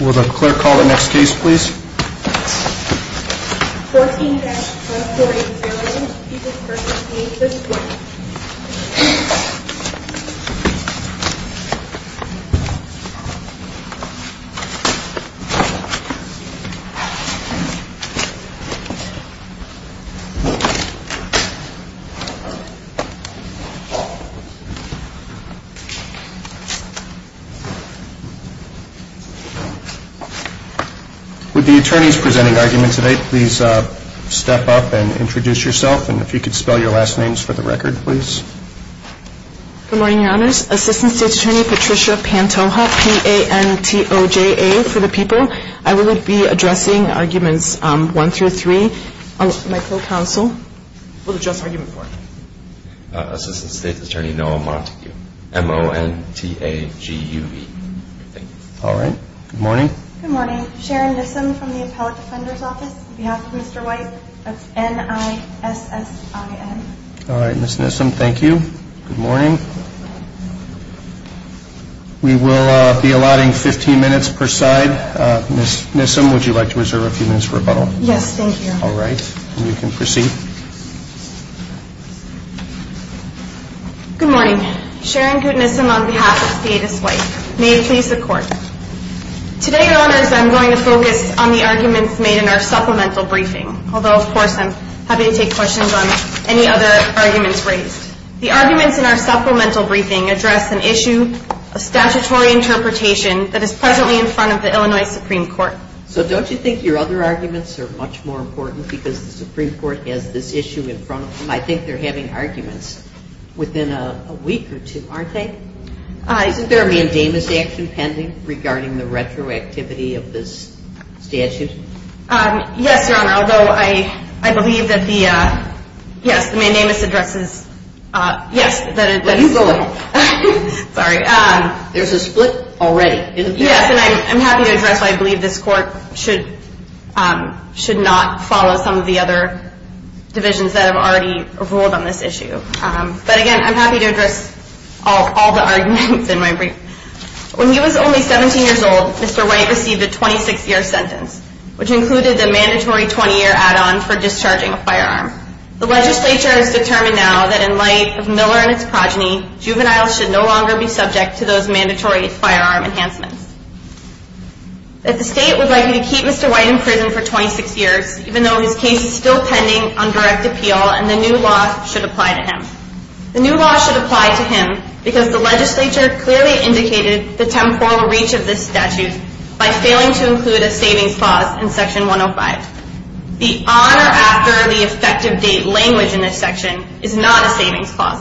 Will the clerk call the next case please. 14-140. With the attorneys presenting arguments today, please step up and introduce yourself and if you could spell your last names for the record, please. Good morning, Your Honors. Assistant State's Attorney Patricia Pantoja, P-A-N-T-O-J-A for the people. I will be addressing arguments one through three. My co-counsel will address argument four. Assistant State's Attorney Noah Montague, M-O-N-T-A-G-U-V. All right, good morning. Good morning. Sharon Nissim from the Appellate Defender's Office on behalf of Mr. White of N-I-S-S-I-N. All right, Ms. Nissim, thank you. Good morning. We will be allotting 15 minutes per side. Ms. Nissim, would you like to reserve a few minutes for rebuttal? Yes, thank you. All right, you can proceed. Good morning. Sharon Goodnissim on behalf of State's White. May it please the Court. Today, Your Honors, I'm going to focus on the arguments made in our supplemental briefing. Although, of course, I'm happy to take questions on any other arguments raised. The arguments in our supplemental briefing address an issue of statutory interpretation that is presently in front of the Illinois Supreme Court. So don't you think your other arguments are much more important because the Supreme Court has this issue in front of them? I think they're having arguments within a week or two, aren't they? Isn't there a mandamus action pending regarding the retroactivity of this statute? Yes, Your Honor, although I believe that the, yes, the mandamus addresses, yes, that it's... Well, you go ahead. Sorry. There's a split already, isn't there? Yes, and I'm happy to address why I believe this Court should not follow some of the other divisions that have already ruled on this issue. But again, I'm happy to address all the arguments in my briefing. When he was only 17 years old, Mr. White received a 26-year sentence, which included the mandatory 20-year add-on for discharging a firearm. The legislature has determined now that in light of Miller and his progeny, juveniles should no longer be subject to those mandatory firearm enhancements. That the state would like him to keep Mr. White in prison for 26 years, even though his case is still pending on direct appeal, and the new law should apply to him. The new law should apply to him because the legislature clearly indicated the temporal reach of this statute by failing to include a savings clause in Section 105. The on or after the effective date language in this section is not a savings clause.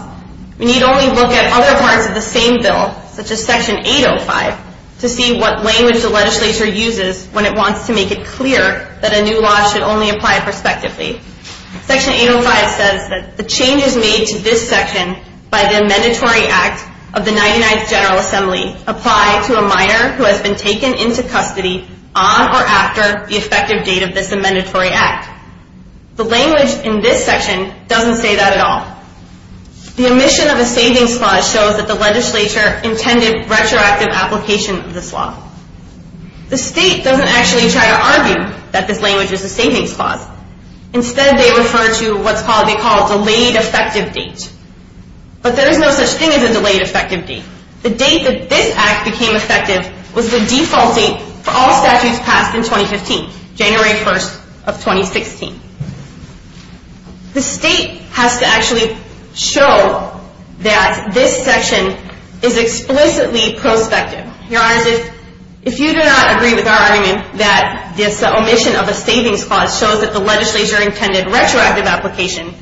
We need only look at other parts of the same bill, such as Section 805, to see what language the legislature uses when it wants to make it clear that a new law should only apply prospectively. Section 805 says that the changes made to this section by the Amendatory Act of the 99th General Assembly apply to a minor who has been taken into custody on or after the effective date of this amendment. The language in this section doesn't say that at all. The omission of a savings clause shows that the legislature intended retroactive application of this law. The state doesn't actually try to argue that this language is a savings clause. Instead, they refer to what they call a delayed effective date. But there is no such thing as a delayed effective date. The date that this Act became effective was the default date for all statutes passed in 2015, January 1, 2016. The state has to actually show that this section is explicitly prospective. If you do not agree with our argument that this omission of a savings clause shows that the legislature intended retroactive application,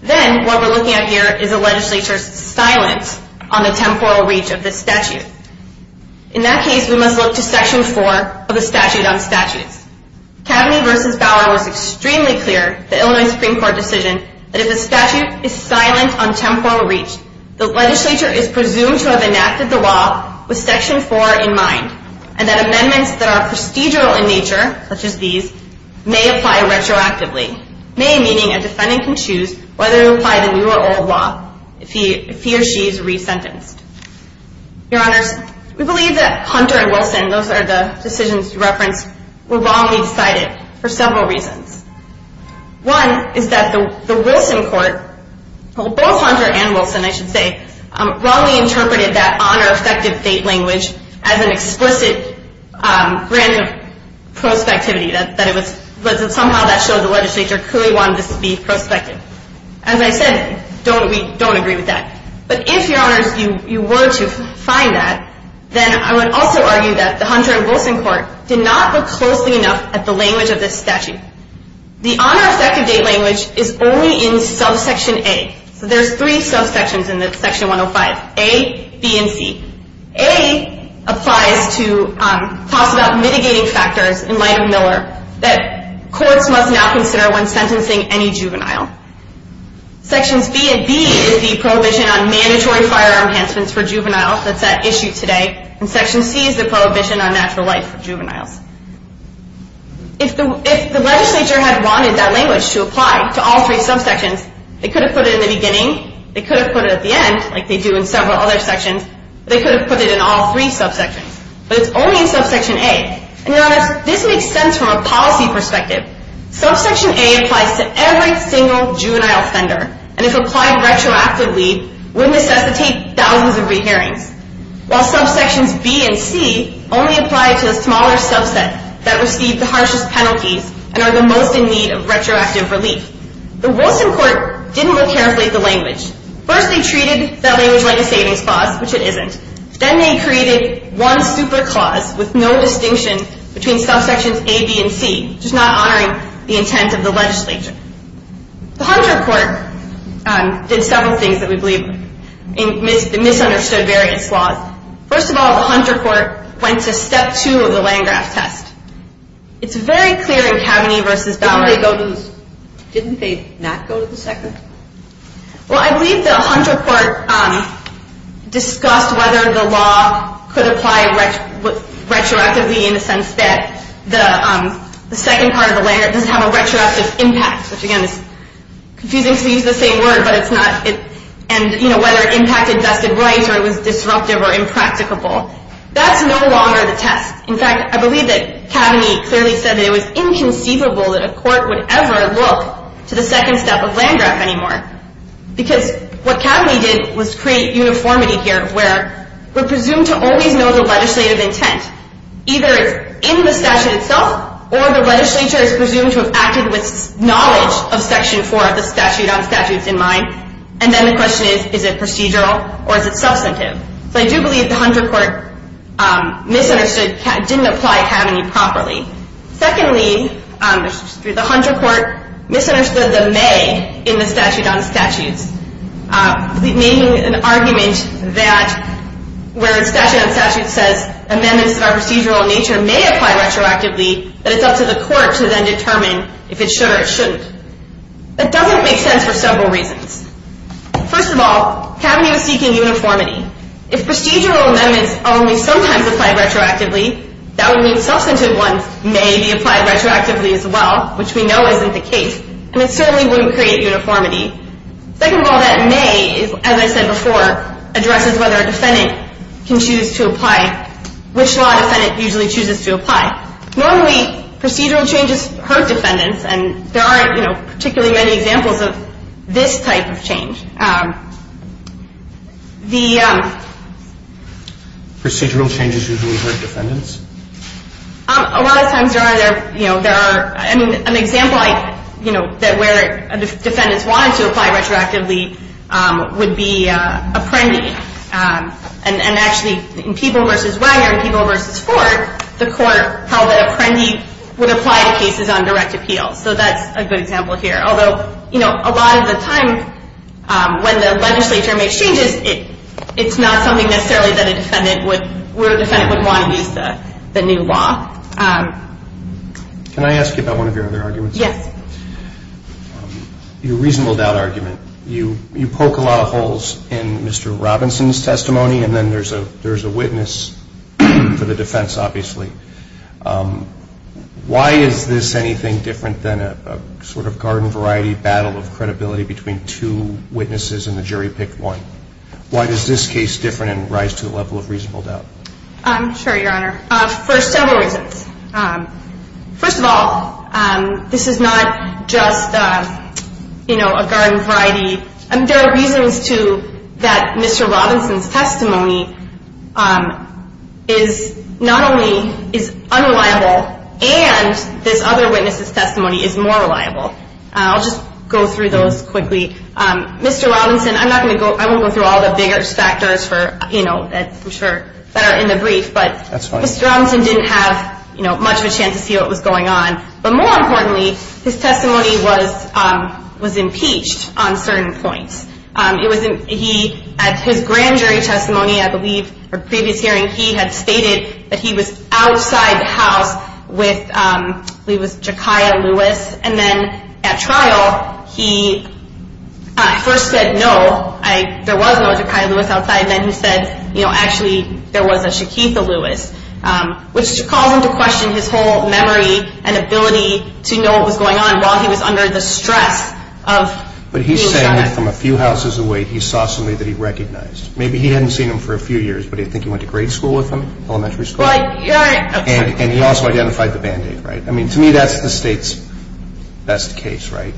then what we're looking at here is a legislature's silence on the temporal reach of this statute. In that case, we must look to Section 4 of the Statute on Statutes. Kaveny v. Bauer was extremely clear in the Illinois Supreme Court decision that if the statute is silent on temporal reach, the legislature is presumed to have enacted the law with Section 4 in mind, and that amendments that are procedural in nature, such as these, may apply retroactively. May meaning a defendant can choose whether to apply the new or old law if he or she is resentenced. Your Honors, we believe that Hunter and Wilson, those are the decisions you referenced, were wrongly decided for several reasons. One is that the Wilson court, both Hunter and Wilson, I should say, wrongly interpreted that honor effective date language as an explicit grant of prospectivity. Somehow that showed the legislature clearly wanted this to be prospective. As I said, we don't agree with that. But if, Your Honors, you were to find that, then I would also argue that the Hunter and Wilson court did not look closely enough at the language of this statute. The honor effective date language is only in subsection A. So there's three subsections in Section 105, A, B, and C. A applies to talks about mitigating factors in light of Miller that courts must not consider when sentencing any juvenile. Sections B and D is the prohibition on mandatory firearm enhancements for juveniles. That's at issue today. And Section C is the prohibition on natural life for juveniles. If the legislature had wanted that language to apply to all three subsections, they could have put it in the beginning, they could have put it at the end, like they do in several other sections, they could have put it in all three subsections. But it's only in subsection A. And Your Honors, this makes sense from a policy perspective. Subsection A applies to every single juvenile offender, and if applied retroactively, would necessitate thousands of re-hearings, while subsections B and C only apply to the smaller subset that received the harshest penalties and are the most in need of retroactive relief. The Wilson court didn't look carefully at the language. First, they treated that language like a savings clause, which it isn't. Then they created one super clause with no distinction between subsections A, B, and C, just not honoring the intent of the legislature. The Hunter court did several things that we believe misunderstood various laws. First of all, the Hunter court went to step two of the Landgraf test. It's very clear in Kaveny v. Baumgart. Didn't they not go to the second? Well, I believe the Hunter court discussed whether the law could apply retroactively in the sense that the second part of the Landgraf doesn't have a retroactive impact, which, again, is confusing because we use the same word, and whether it impacted vested rights or it was disruptive or impracticable. That's no longer the test. In fact, I believe that Kaveny clearly said that it was inconceivable that a court would ever look to the second step of Landgraf anymore because what Kaveny did was create uniformity here where we're presumed to always know the legislative intent, either in the statute itself or the legislature is presumed to have acted with knowledge of Section 4 of the statute on statutes in mind. And then the question is, is it procedural or is it substantive? So I do believe the Hunter court misunderstood, didn't apply Kaveny properly. Secondly, the Hunter court misunderstood the may in the statute on statutes, making an argument that where the statute on statutes says amendments of our procedural nature may apply retroactively, that it's up to the court to then determine if it should or it shouldn't. That doesn't make sense for several reasons. First of all, Kaveny was seeking uniformity. If procedural amendments only sometimes apply retroactively, that would mean substantive ones may be applied retroactively as well, which we know isn't the case, and it certainly wouldn't create uniformity. Second of all, that may, as I said before, addresses whether a defendant can choose to apply, which law defendant usually chooses to apply. Normally procedural changes hurt defendants, and there aren't particularly many examples of this type of change. The procedural changes usually hurt defendants? A lot of times there are. An example where defendants wanted to apply retroactively would be Apprendi. And actually in Peeble v. Wagner and Peeble v. Ford, the court held that Apprendi would apply to cases on direct appeal. So that's a good example here. Although a lot of the time when the legislature makes changes, it's not something necessarily that a defendant would want to use the new law. Can I ask you about one of your other arguments? Yes. Your reasonable doubt argument. You poke a lot of holes in Mr. Robinson's testimony, and then there's a witness for the defense, obviously. Why is this anything different than a sort of garden-variety battle of credibility between two witnesses and the jury picked one? Why is this case different and rise to the level of reasonable doubt? I'm sure, Your Honor, for several reasons. First of all, this is not just a garden-variety. There are reasons, too, that Mr. Robinson's testimony is not only unreliable I'll just go through those quickly. Mr. Robinson, I won't go through all the bigger factors that are in the brief, but Mr. Robinson didn't have much of a chance to see what was going on. But more importantly, his testimony was impeached on certain points. At his grand jury testimony, I believe, or previous hearing, he had stated that he was outside the house with, I believe it was Ja'kia Lewis. And then at trial, he first said no, there was no Ja'kia Lewis outside, and then he said, you know, actually there was a Shakitha Lewis, which caused him to question his whole memory and ability to know what was going on while he was under the stress of being shot at. And then from a few houses away, he saw somebody that he recognized. Maybe he hadn't seen him for a few years, but I think he went to grade school with him, elementary school. And he also identified the Band-Aid, right? I mean, to me, that's the State's best case, right?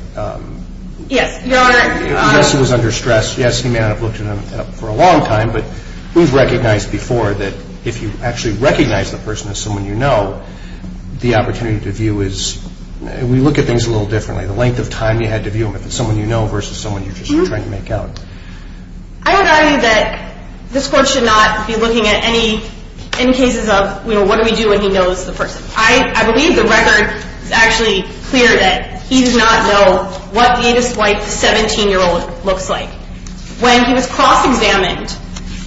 Yes, Your Honor. Yes, he was under stress. Yes, he may not have looked at him for a long time. But it was recognized before that if you actually recognize the person as someone you know, the opportunity to view is, we look at things a little differently. The length of time you had to view him, if it's someone you know versus someone you're just trying to make out. I would argue that this Court should not be looking at any cases of, you know, what do we do when he knows the person? I believe the record is actually clear that he did not know what the 17-year-old looks like. When he was cross-examined,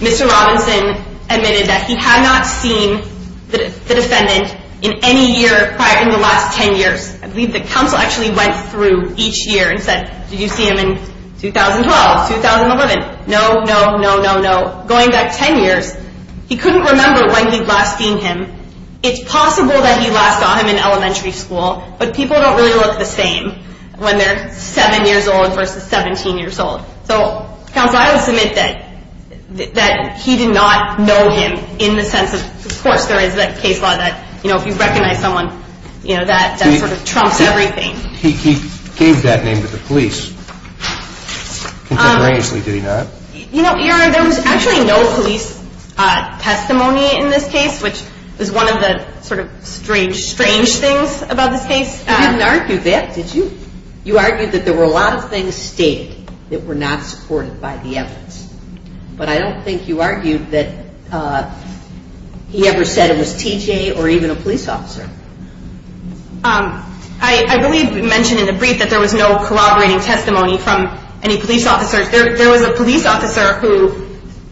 Mr. Robinson admitted that he had not seen the defendant in any year prior, in the last 10 years. I believe the counsel actually went through each year and said, did you see him in 2012, 2011? No, no, no, no, no. Going back 10 years, he couldn't remember when he'd last seen him. It's possible that he last saw him in elementary school, but people don't really look the same when they're 7 years old versus 17 years old. So, counsel, I would submit that he did not know him in the sense of, of course, there is that case law that, you know, if you recognize someone, you know, that sort of trumps everything. He gave that name to the police, contemporaneously, did he not? You know, there was actually no police testimony in this case, which was one of the sort of strange, strange things about this case. You didn't argue that, did you? You argued that there were a lot of things stated that were not supported by the evidence. But I don't think you argued that he ever said it was T.J. or even a police officer. I really mentioned in the brief that there was no corroborating testimony from any police officers. There was a police officer who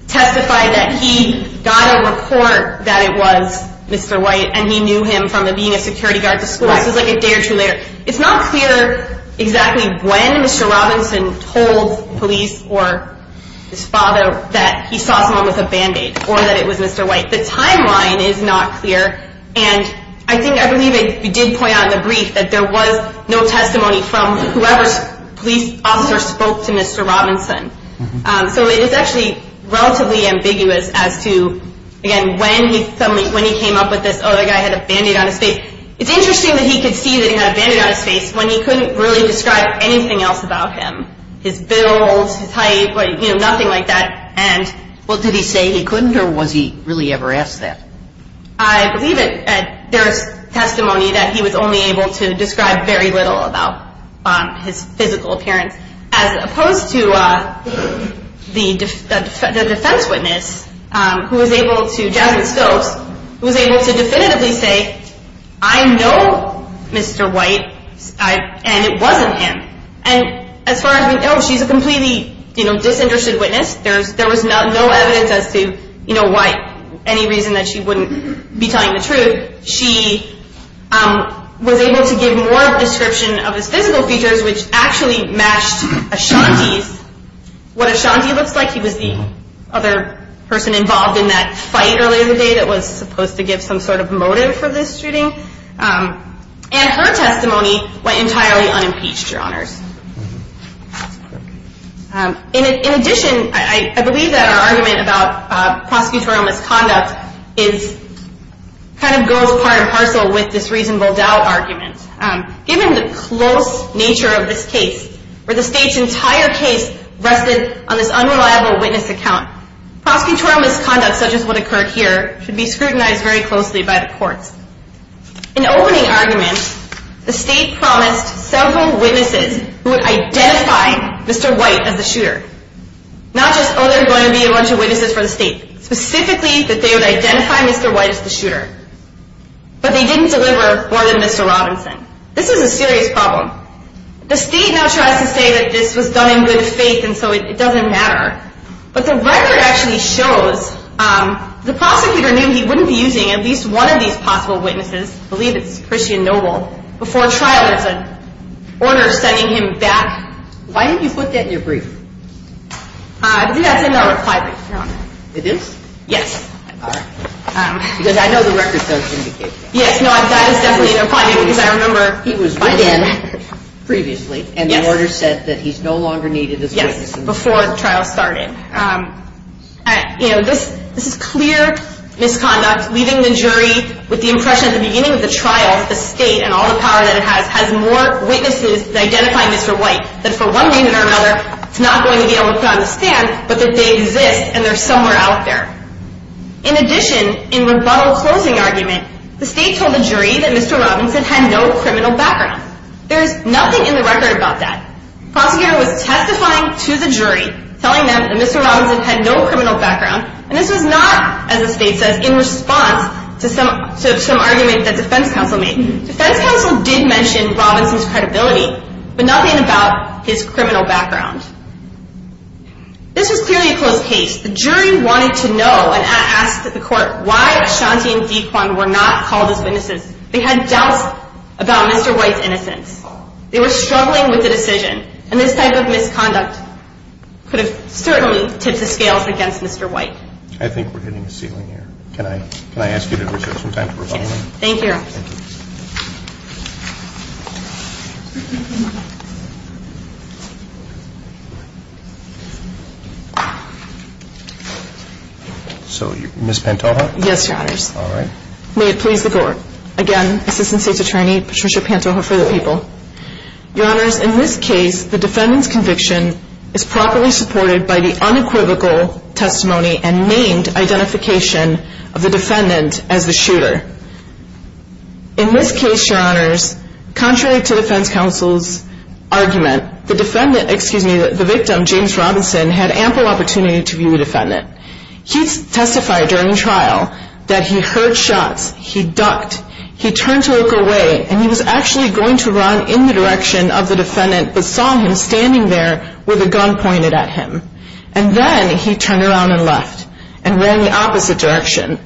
testified that he got a report that it was Mr. White and he knew him from being a security guard to school. It's not clear exactly when Mr. Robinson told police or his father that he saw someone with a band-aid or that it was Mr. White. The timeline is not clear, and I think, I believe you did point out in the brief that there was no testimony from whoever's police officer spoke to Mr. Robinson. So it is actually relatively ambiguous as to, again, when he came up with this, oh, the guy had a band-aid on his face. It's interesting that he could see that he had a band-aid on his face when he couldn't really describe anything else about him, his build, his height, nothing like that. Well, did he say he couldn't, or was he really ever asked that? I believe there's testimony that he was only able to describe very little about his physical appearance as opposed to the defense witness who was able to, Jasmine Stokes, who was able to definitively say, I know Mr. White, and it wasn't him. And as far as we know, she's a completely disinterested witness. There was no evidence as to why, any reason that she wouldn't be telling the truth. She was able to give more description of his physical features, which actually matched Ashanti's, what Ashanti looks like. He was the other person involved in that fight earlier today that was supposed to give some sort of motive for this shooting. And her testimony went entirely unimpeached, Your Honors. In addition, I believe that our argument about prosecutorial misconduct kind of goes part and parcel with this reasonable doubt argument. Given the close nature of this case, where the state's entire case rested on this unreliable witness account, prosecutorial misconduct such as what occurred here should be scrutinized very closely by the courts. In opening arguments, the state promised several witnesses who would identify Mr. White as the shooter. Not just, oh, there are going to be a bunch of witnesses for the state. Specifically, that they would identify Mr. White as the shooter. But they didn't deliver more than Mr. Robinson. This is a serious problem. The state now tries to say that this was done in good faith and so it doesn't matter. But the record actually shows the prosecutor knew he wouldn't be using at least one of these possible witnesses, I believe it's Christian Noble, before trial as an order of sending him back. Why didn't you put that in your brief? I believe that's in our reply. It is? Yes. Because I know the records don't indicate that. Yes, that is definitely in our reply because I remember the order said that he's no longer needed as a witness. This is clear misconduct, leaving the jury with the impression at the beginning of the trial that the state and all the power that it has has more witnesses identifying Mr. White that for one reason or another is not going to be able to put on the stand but that they exist and they're somewhere out there. In addition, in rebuttal closing argument, the state told the jury that Mr. Robinson had no criminal background. There's nothing in the record about that. The prosecutor was testifying to the jury telling them that Mr. Robinson had no criminal background and this was not, as the state says, in response to some argument that defense counsel made. Defense counsel did mention Robinson's credibility but nothing about his criminal background. This was clearly a close case. The jury wanted to know and asked the court why Ashanti and Dequan were not called as witnesses. They had doubts about Mr. White's innocence. They were struggling with the decision and this type of misconduct could have certainly 'll see why we have two cases with lips with her on the top of the report, testimony and named identification of the defendant as the shooter. In this case, your honors, contrary to defense counsel's argument, the defendant, excuse me, the victim, James Robinson, had ample opportunity to view the defendant. He testified during trial that he heard shots, he ducked, he turned to look away, and he was actually going to run in the direction of the defendant, but saw him standing there with a gun pointed at him. And then he turned around and left and ran in the opposite direction.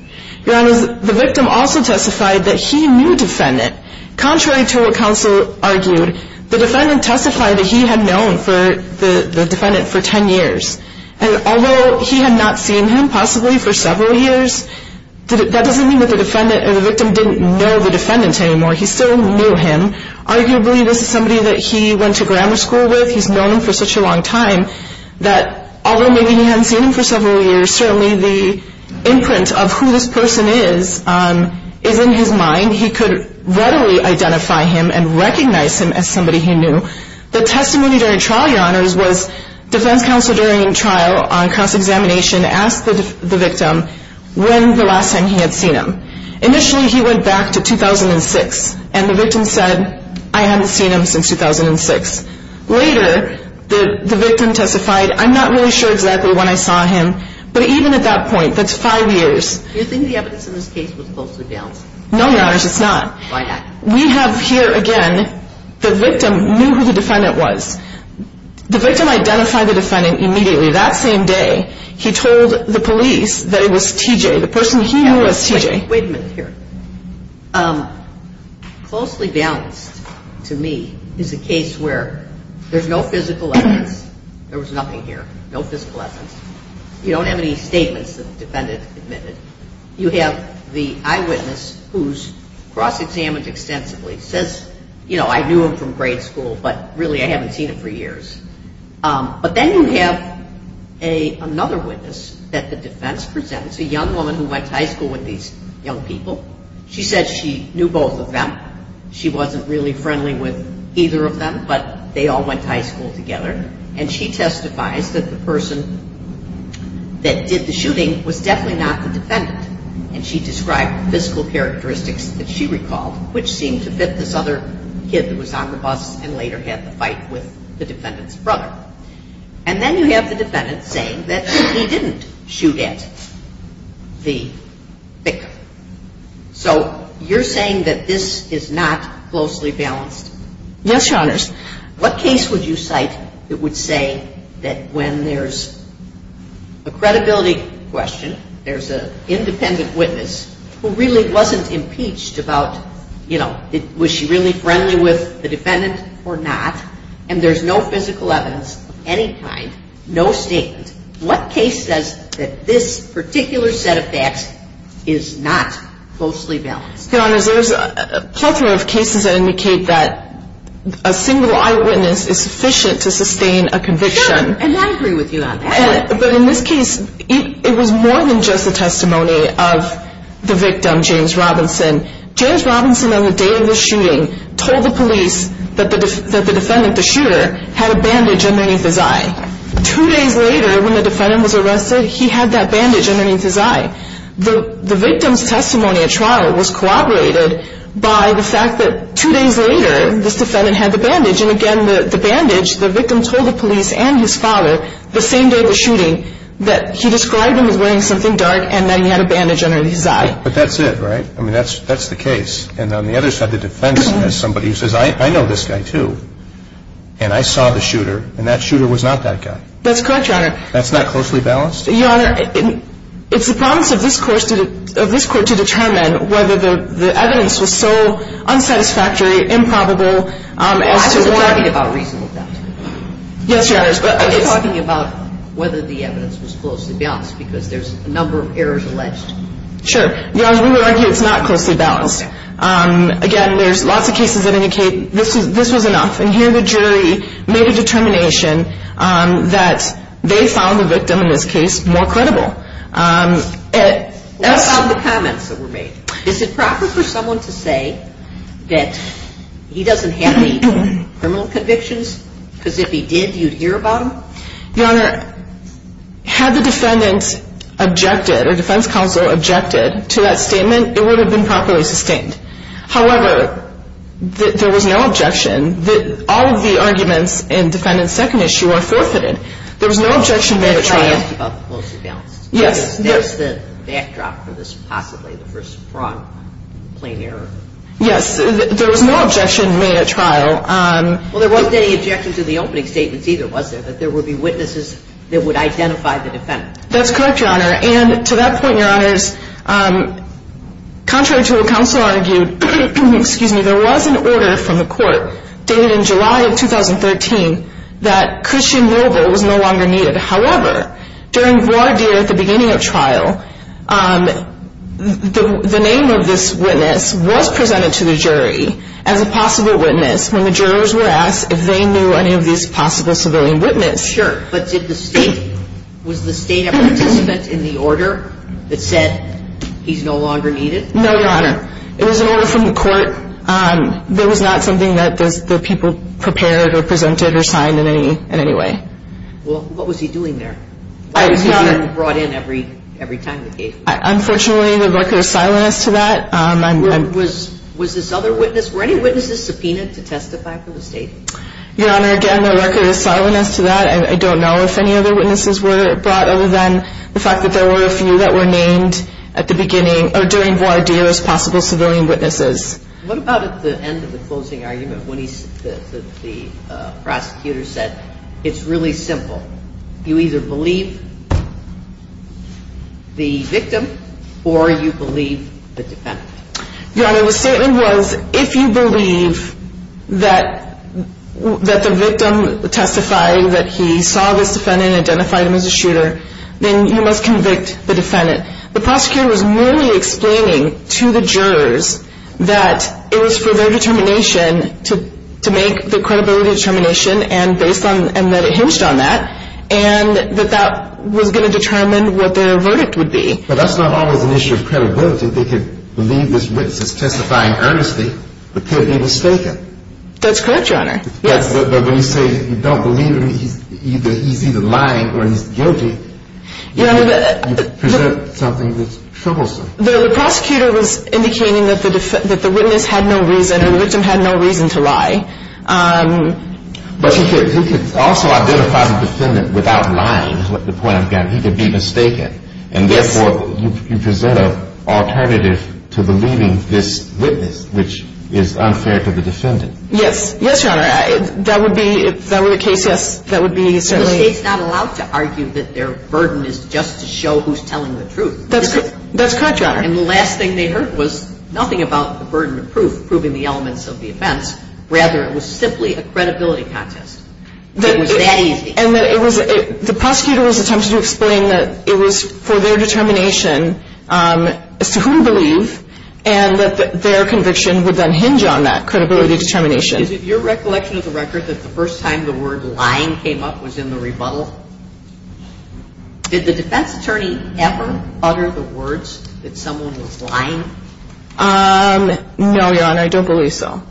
Your honors, the victim also testified that he knew the defendant. Contrary to what counsel argued, the defendant testified that he had known the defendant for 10 years. And although he had not seen him possibly for several years, that doesn't mean that the victim didn't know the defendant anymore. He still knew him. Arguably, this is somebody that he went to grammar school with, he's known him for such a long time, that although maybe he hadn't seen him for several years, certainly the imprint of who this person is is in his mind. He could readily identify him and recognize him as somebody he knew. The testimony during trial, your honors, was defense counsel during trial on cross-examination asked the victim when the last time he had seen him. Initially, he went back to 2006, and the victim said, I haven't seen him since 2006. Later, the victim testified, I'm not really sure exactly when I saw him. But even at that point, that's five years. No, your honors, it's not. We have here, again, the victim knew who the defendant was. The victim identified the defendant immediately. That same day, he told the police that it was T.J., the person he knew was T.J. Wait a minute here. Closely balanced, to me, is a case where there's no physical evidence. There was nothing here, no physical evidence. You don't have any statements that the defendant admitted. You have the eyewitness who's cross-examined extensively. Says, you know, I knew him from grade school, but really I haven't seen him for years. But then you have another witness that the defense presents, a young woman who went to high school with these young people. She said she knew both of them. She wasn't really friendly with either of them, but they all went to high school together. And she testifies that the person that did the shooting was definitely not the defendant. And she described physical characteristics that she recalled, which seemed to fit this other kid that was on the bus and later had the fight with the defendant's brother. And then you have the defendant saying that he didn't shoot at the victim. So you're saying that this is not closely balanced? Yes, Your Honors. What case would you cite that would say that when there's a credibility question, there's an independent witness who really wasn't impeached about, you know, was she really friendly with the defendant or not, and there's no physical evidence of any kind, no statement, what case says that this particular set of facts is not closely balanced? Your Honors, there's a plethora of cases that indicate that a single eyewitness is sufficient to sustain a conviction. Sure, and I agree with you on that. But in this case, it was more than just the testimony of the victim, James Robinson. James Robinson on the day of the shooting told the police that the defendant, the shooter, had a bandage underneath his eye. Two days later, when the defendant was arrested, he had that bandage underneath his eye. The victim's testimony at trial was corroborated by the fact that two days later, this defendant had the bandage. And again, the bandage, the victim told the police and his father the same day of the shooting that he described him as wearing something dark and that he had a bandage underneath his eye. But that's it, right? I mean, that's the case. And on the other side, the defense has somebody who says, I know this guy, too, and I saw the shooter, and that shooter was not that guy. That's correct, Your Honor. That's not closely balanced? Your Honor, it's the promise of this Court to determine whether the evidence was so unsatisfactory, improbable. Well, I wasn't talking about reasonable doubt. Yes, Your Honor. I was talking about whether the evidence was closely balanced because there's a number of errors alleged. Sure. Your Honor, we would argue it's not closely balanced. Again, there's lots of cases that indicate this was enough. And here the jury made a determination that they found the victim in this case more credible. What about the comments that were made? Is it proper for someone to say that he doesn't have any criminal convictions? Because if he did, you'd hear about him? Your Honor, had the defendant objected or defense counsel objected to that statement, it would have been properly sustained. However, there was no objection that all of the arguments in defendant's second issue are forfeited. There was no objection made at trial. That's the backdrop for this possibly, the first fraud complaint error. Yes, there was no objection made at trial. Well, there wasn't any objection to the opening statements either, was there, that there would be witnesses that would identify the defendant? That's correct, Your Honor. And to that point, Your Honors, contrary to what counsel argued, there was an order from the court dated in July of 2013 that Christian Noble was no longer needed. However, during voir dire at the beginning of trial, the name of this witness was presented to the jury as a possible witness when the jurors were asked if they knew any of these possible civilian witnesses. Sure, but did the state, was the state a participant in the order that said he's no longer needed? No, Your Honor. It was an order from the court. There was not something that the people prepared or presented or signed in any way. Well, what was he doing there? I don't know. I don't know. I don't know. I don't know. Unfortunately, the record is silent as to that. Your Honor, the statement was, if you believe that the victim testified that he saw this defendant and identified him as a shooter, then you must convict the defendant. The prosecutor was merely explaining to the jurors that it was for their determination to make the credibility determination, and based on, and that it hinged on that, and that that was going to determine what their verdict would be. But that's not always an issue of credibility. They could believe this witness is testifying earnestly, but could be mistaken. That's correct, Your Honor. But when you say you don't believe him, he's either lying or he's guilty, you present something that's troublesome. The prosecutor was indicating that the witness had no reason or the victim had no reason to lie. But he could also identify the defendant without lying, is the point I'm getting. He could be mistaken, and therefore you present an alternative to believing this witness, which is unfair to the defendant. Yes. Yes, Your Honor. That would be, if that were the case, yes, that would be certainly. The State's not allowed to argue that their burden is just to show who's telling the truth. That's correct, Your Honor. And the last thing they heard was nothing about the burden of proof proving the elements of the offense. Rather, it was simply a credibility contest. It was that easy. And the prosecutor was attempting to explain that it was for their determination as to who to believe and that their conviction would then hinge on that credibility determination. Is it your recollection of the record that the first time the word lying came up was in the rebuttal? Did the defense attorney ever utter the words that someone was lying? No, Your Honor, I don't believe so.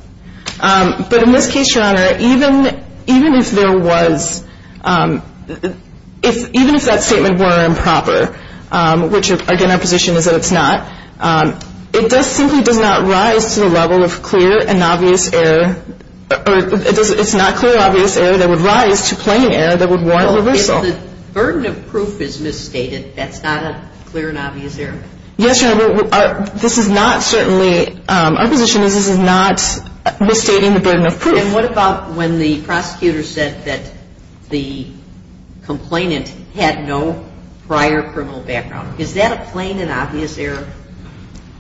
But in this case, Your Honor, even if there was, even if that statement were improper, which, again, our position is that it's not, it simply does not rise to the level of clear and obvious error, or it's not clear and obvious error that would rise to plain error that would warrant reversal. Well, if the burden of proof is misstated, that's not a clear and obvious error? Yes, Your Honor, this is not certainly, our position is this is not misstating the burden of proof. And what about when the prosecutor said that the complainant had no prior criminal background? Is that a plain and obvious error?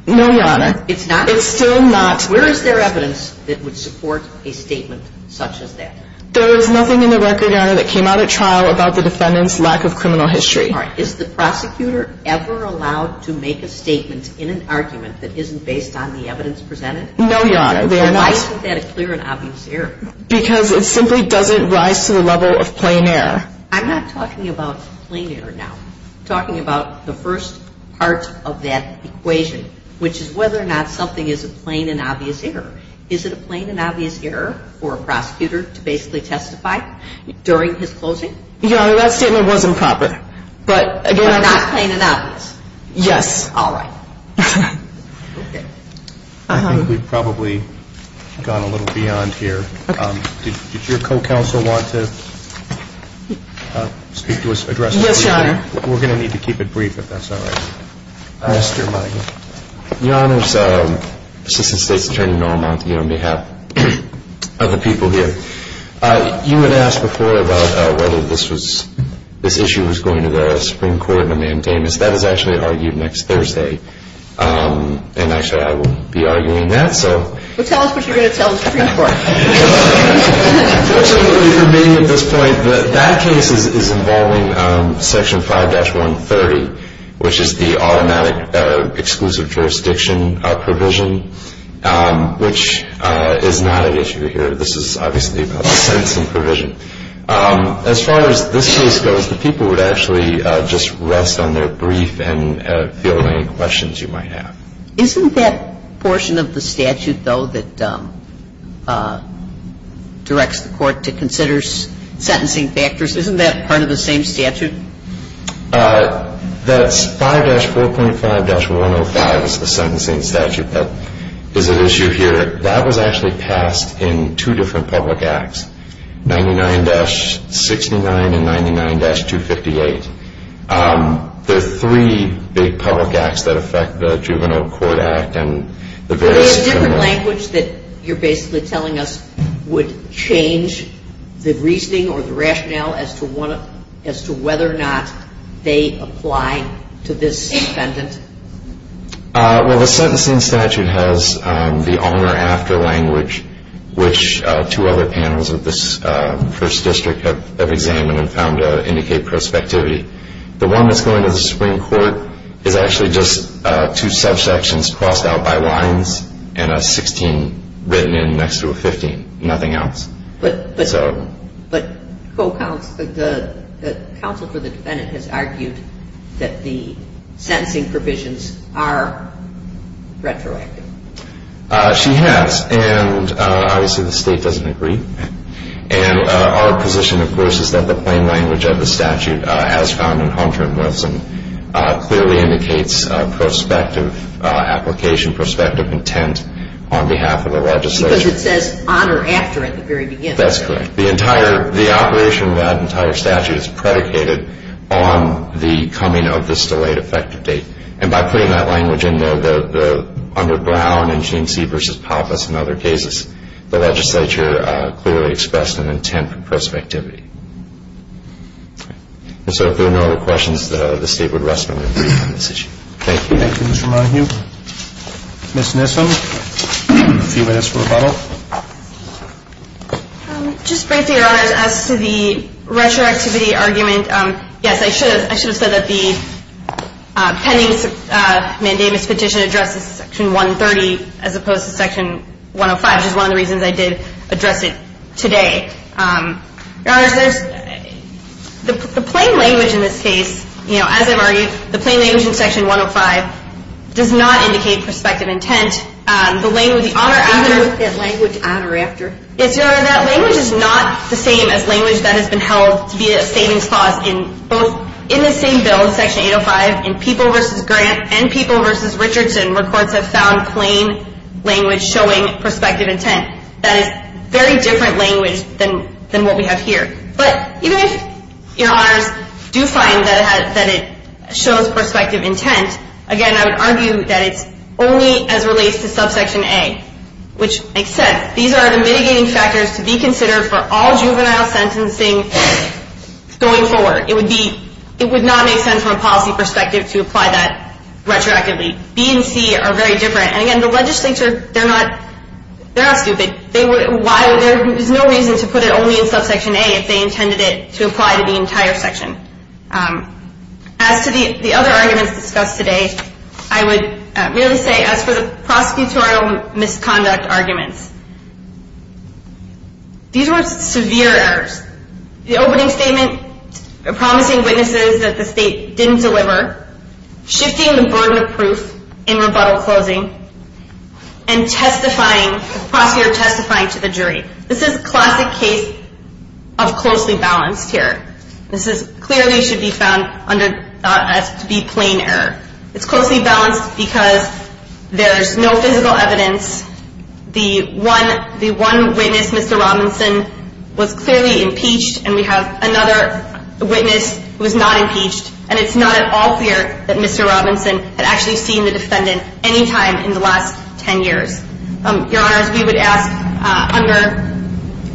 No, Your Honor, it's still not. Where is there evidence that would support a statement such as that? There is nothing in the record, Your Honor, that came out at trial about the defendant's lack of criminal history. All right. Is the prosecutor ever allowed to make a statement in an argument that isn't based on the evidence presented? No, Your Honor, they are not. Why isn't that a clear and obvious error? Because it simply doesn't rise to the level of plain error. I'm not talking about plain error now. I'm talking about the first part of that equation, which is whether or not something is a plain and obvious error. Is it a plain and obvious error for a prosecutor to basically testify during his closing? Your Honor, that statement was improper. But not plain and obvious? Yes. All right. Okay. I think we've probably gone a little beyond here. Okay. Did your co-counsel want to speak to us, address us? Yes, Your Honor. We're going to need to keep it brief, if that's all right. Yes, Your Honor. Your Honors, Assistant State's Attorney Noramonti, on behalf of the people here, you had asked before about whether this issue was going to the Supreme Court in a maintenance. That is actually argued next Thursday. And actually, I will be arguing that. Well, tell us what you're going to tell the Supreme Court. Unfortunately for me at this point, that case is involving Section 5-130, which is the automatic exclusive jurisdiction provision, which is not an issue here. This is obviously about a sentencing provision. As far as this case goes, the people would actually just rest on their brief and field any questions you might have. Isn't that portion of the statute, though, that directs the court to consider sentencing factors, isn't that part of the same statute? That's 5-4.5-105 is the sentencing statute that is at issue here. That was actually passed in two different public acts, 99-69 and 99-258. There are three big public acts that affect the Juvenile Court Act and the various criminal acts. Is there a different language that you're basically telling us would change the reasoning or the rationale as to whether or not they apply to this defendant? Well, the sentencing statute has the on or after language, which two other panels of this first district have examined and found to indicate prospectivity. The one that's going to the Supreme Court is actually just two subsections crossed out by lines and a 16 written in next to a 15, nothing else. But the counsel for the defendant has argued that the sentencing provisions are retroactive. She has, and obviously the state doesn't agree. And our position, of course, is that the plain language of the statute as found in Hunter and Wilson clearly indicates prospective application, prospective intent on behalf of the legislature. Because it says on or after at the very beginning. That's correct. The operation of that entire statute is predicated on the coming of this delayed effective date. And by putting that language in there, under Brown and Genesee v. Pappas and other cases, the legislature clearly expressed an intent for prospectivity. And so if there are no other questions, the state would rest on their feet on this issue. Thank you. Thank you, Mr. Monaghan. Ms. Nissel, a few minutes for rebuttal. Just briefly, Your Honor, as to the retroactivity argument, yes, I should have said that the pending mandamus petition addresses Section 130 as opposed to Section 105, which is one of the reasons I did address it today. Your Honor, there's the plain language in this case, you know, as I've argued, the plain language in Section 105 does not indicate prospective intent. The language on or after. The language on or after. Yes, Your Honor. That language is not the same as language that has been held to be a savings clause in both in the same bill, Section 805, in People v. Grant and People v. Richardson, where courts have found plain language showing prospective intent. That is very different language than what we have here. But even if Your Honors do find that it shows prospective intent, again, I would argue that it's only as relates to Subsection A, which makes sense. These are the mitigating factors to be considered for all juvenile sentencing going forward. It would not make sense from a policy perspective to apply that retroactively. B and C are very different. And again, the legislature, they're not stupid. There's no reason to put it only in Subsection A if they intended it to apply to the entire section. As to the other arguments discussed today, I would really say as for the prosecutorial misconduct arguments, these were severe errors. The opening statement promising witnesses that the state didn't deliver, shifting the burden of proof in rebuttal closing, and testifying, the prosecutor testifying to the jury. This is a classic case of closely balanced here. This clearly should be found to be plain error. It's closely balanced because there's no physical evidence. The one witness, Mr. Robinson, was clearly impeached, and we have another witness who was not impeached. And it's not at all clear that Mr. Robinson had actually seen the defendant any time in the last 10 years. Your Honors, we would ask under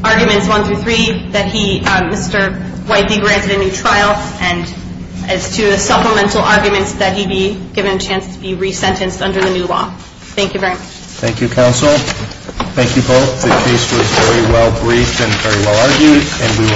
Arguments 1 through 3 that he, Mr. White, be granted a new trial. And as to the supplemental arguments, that he be given a chance to be resentenced under the new law. Thank you very much. Thank you, Counsel. Thank you both. The case was very well briefed and very well argued, and we will take it under advisement.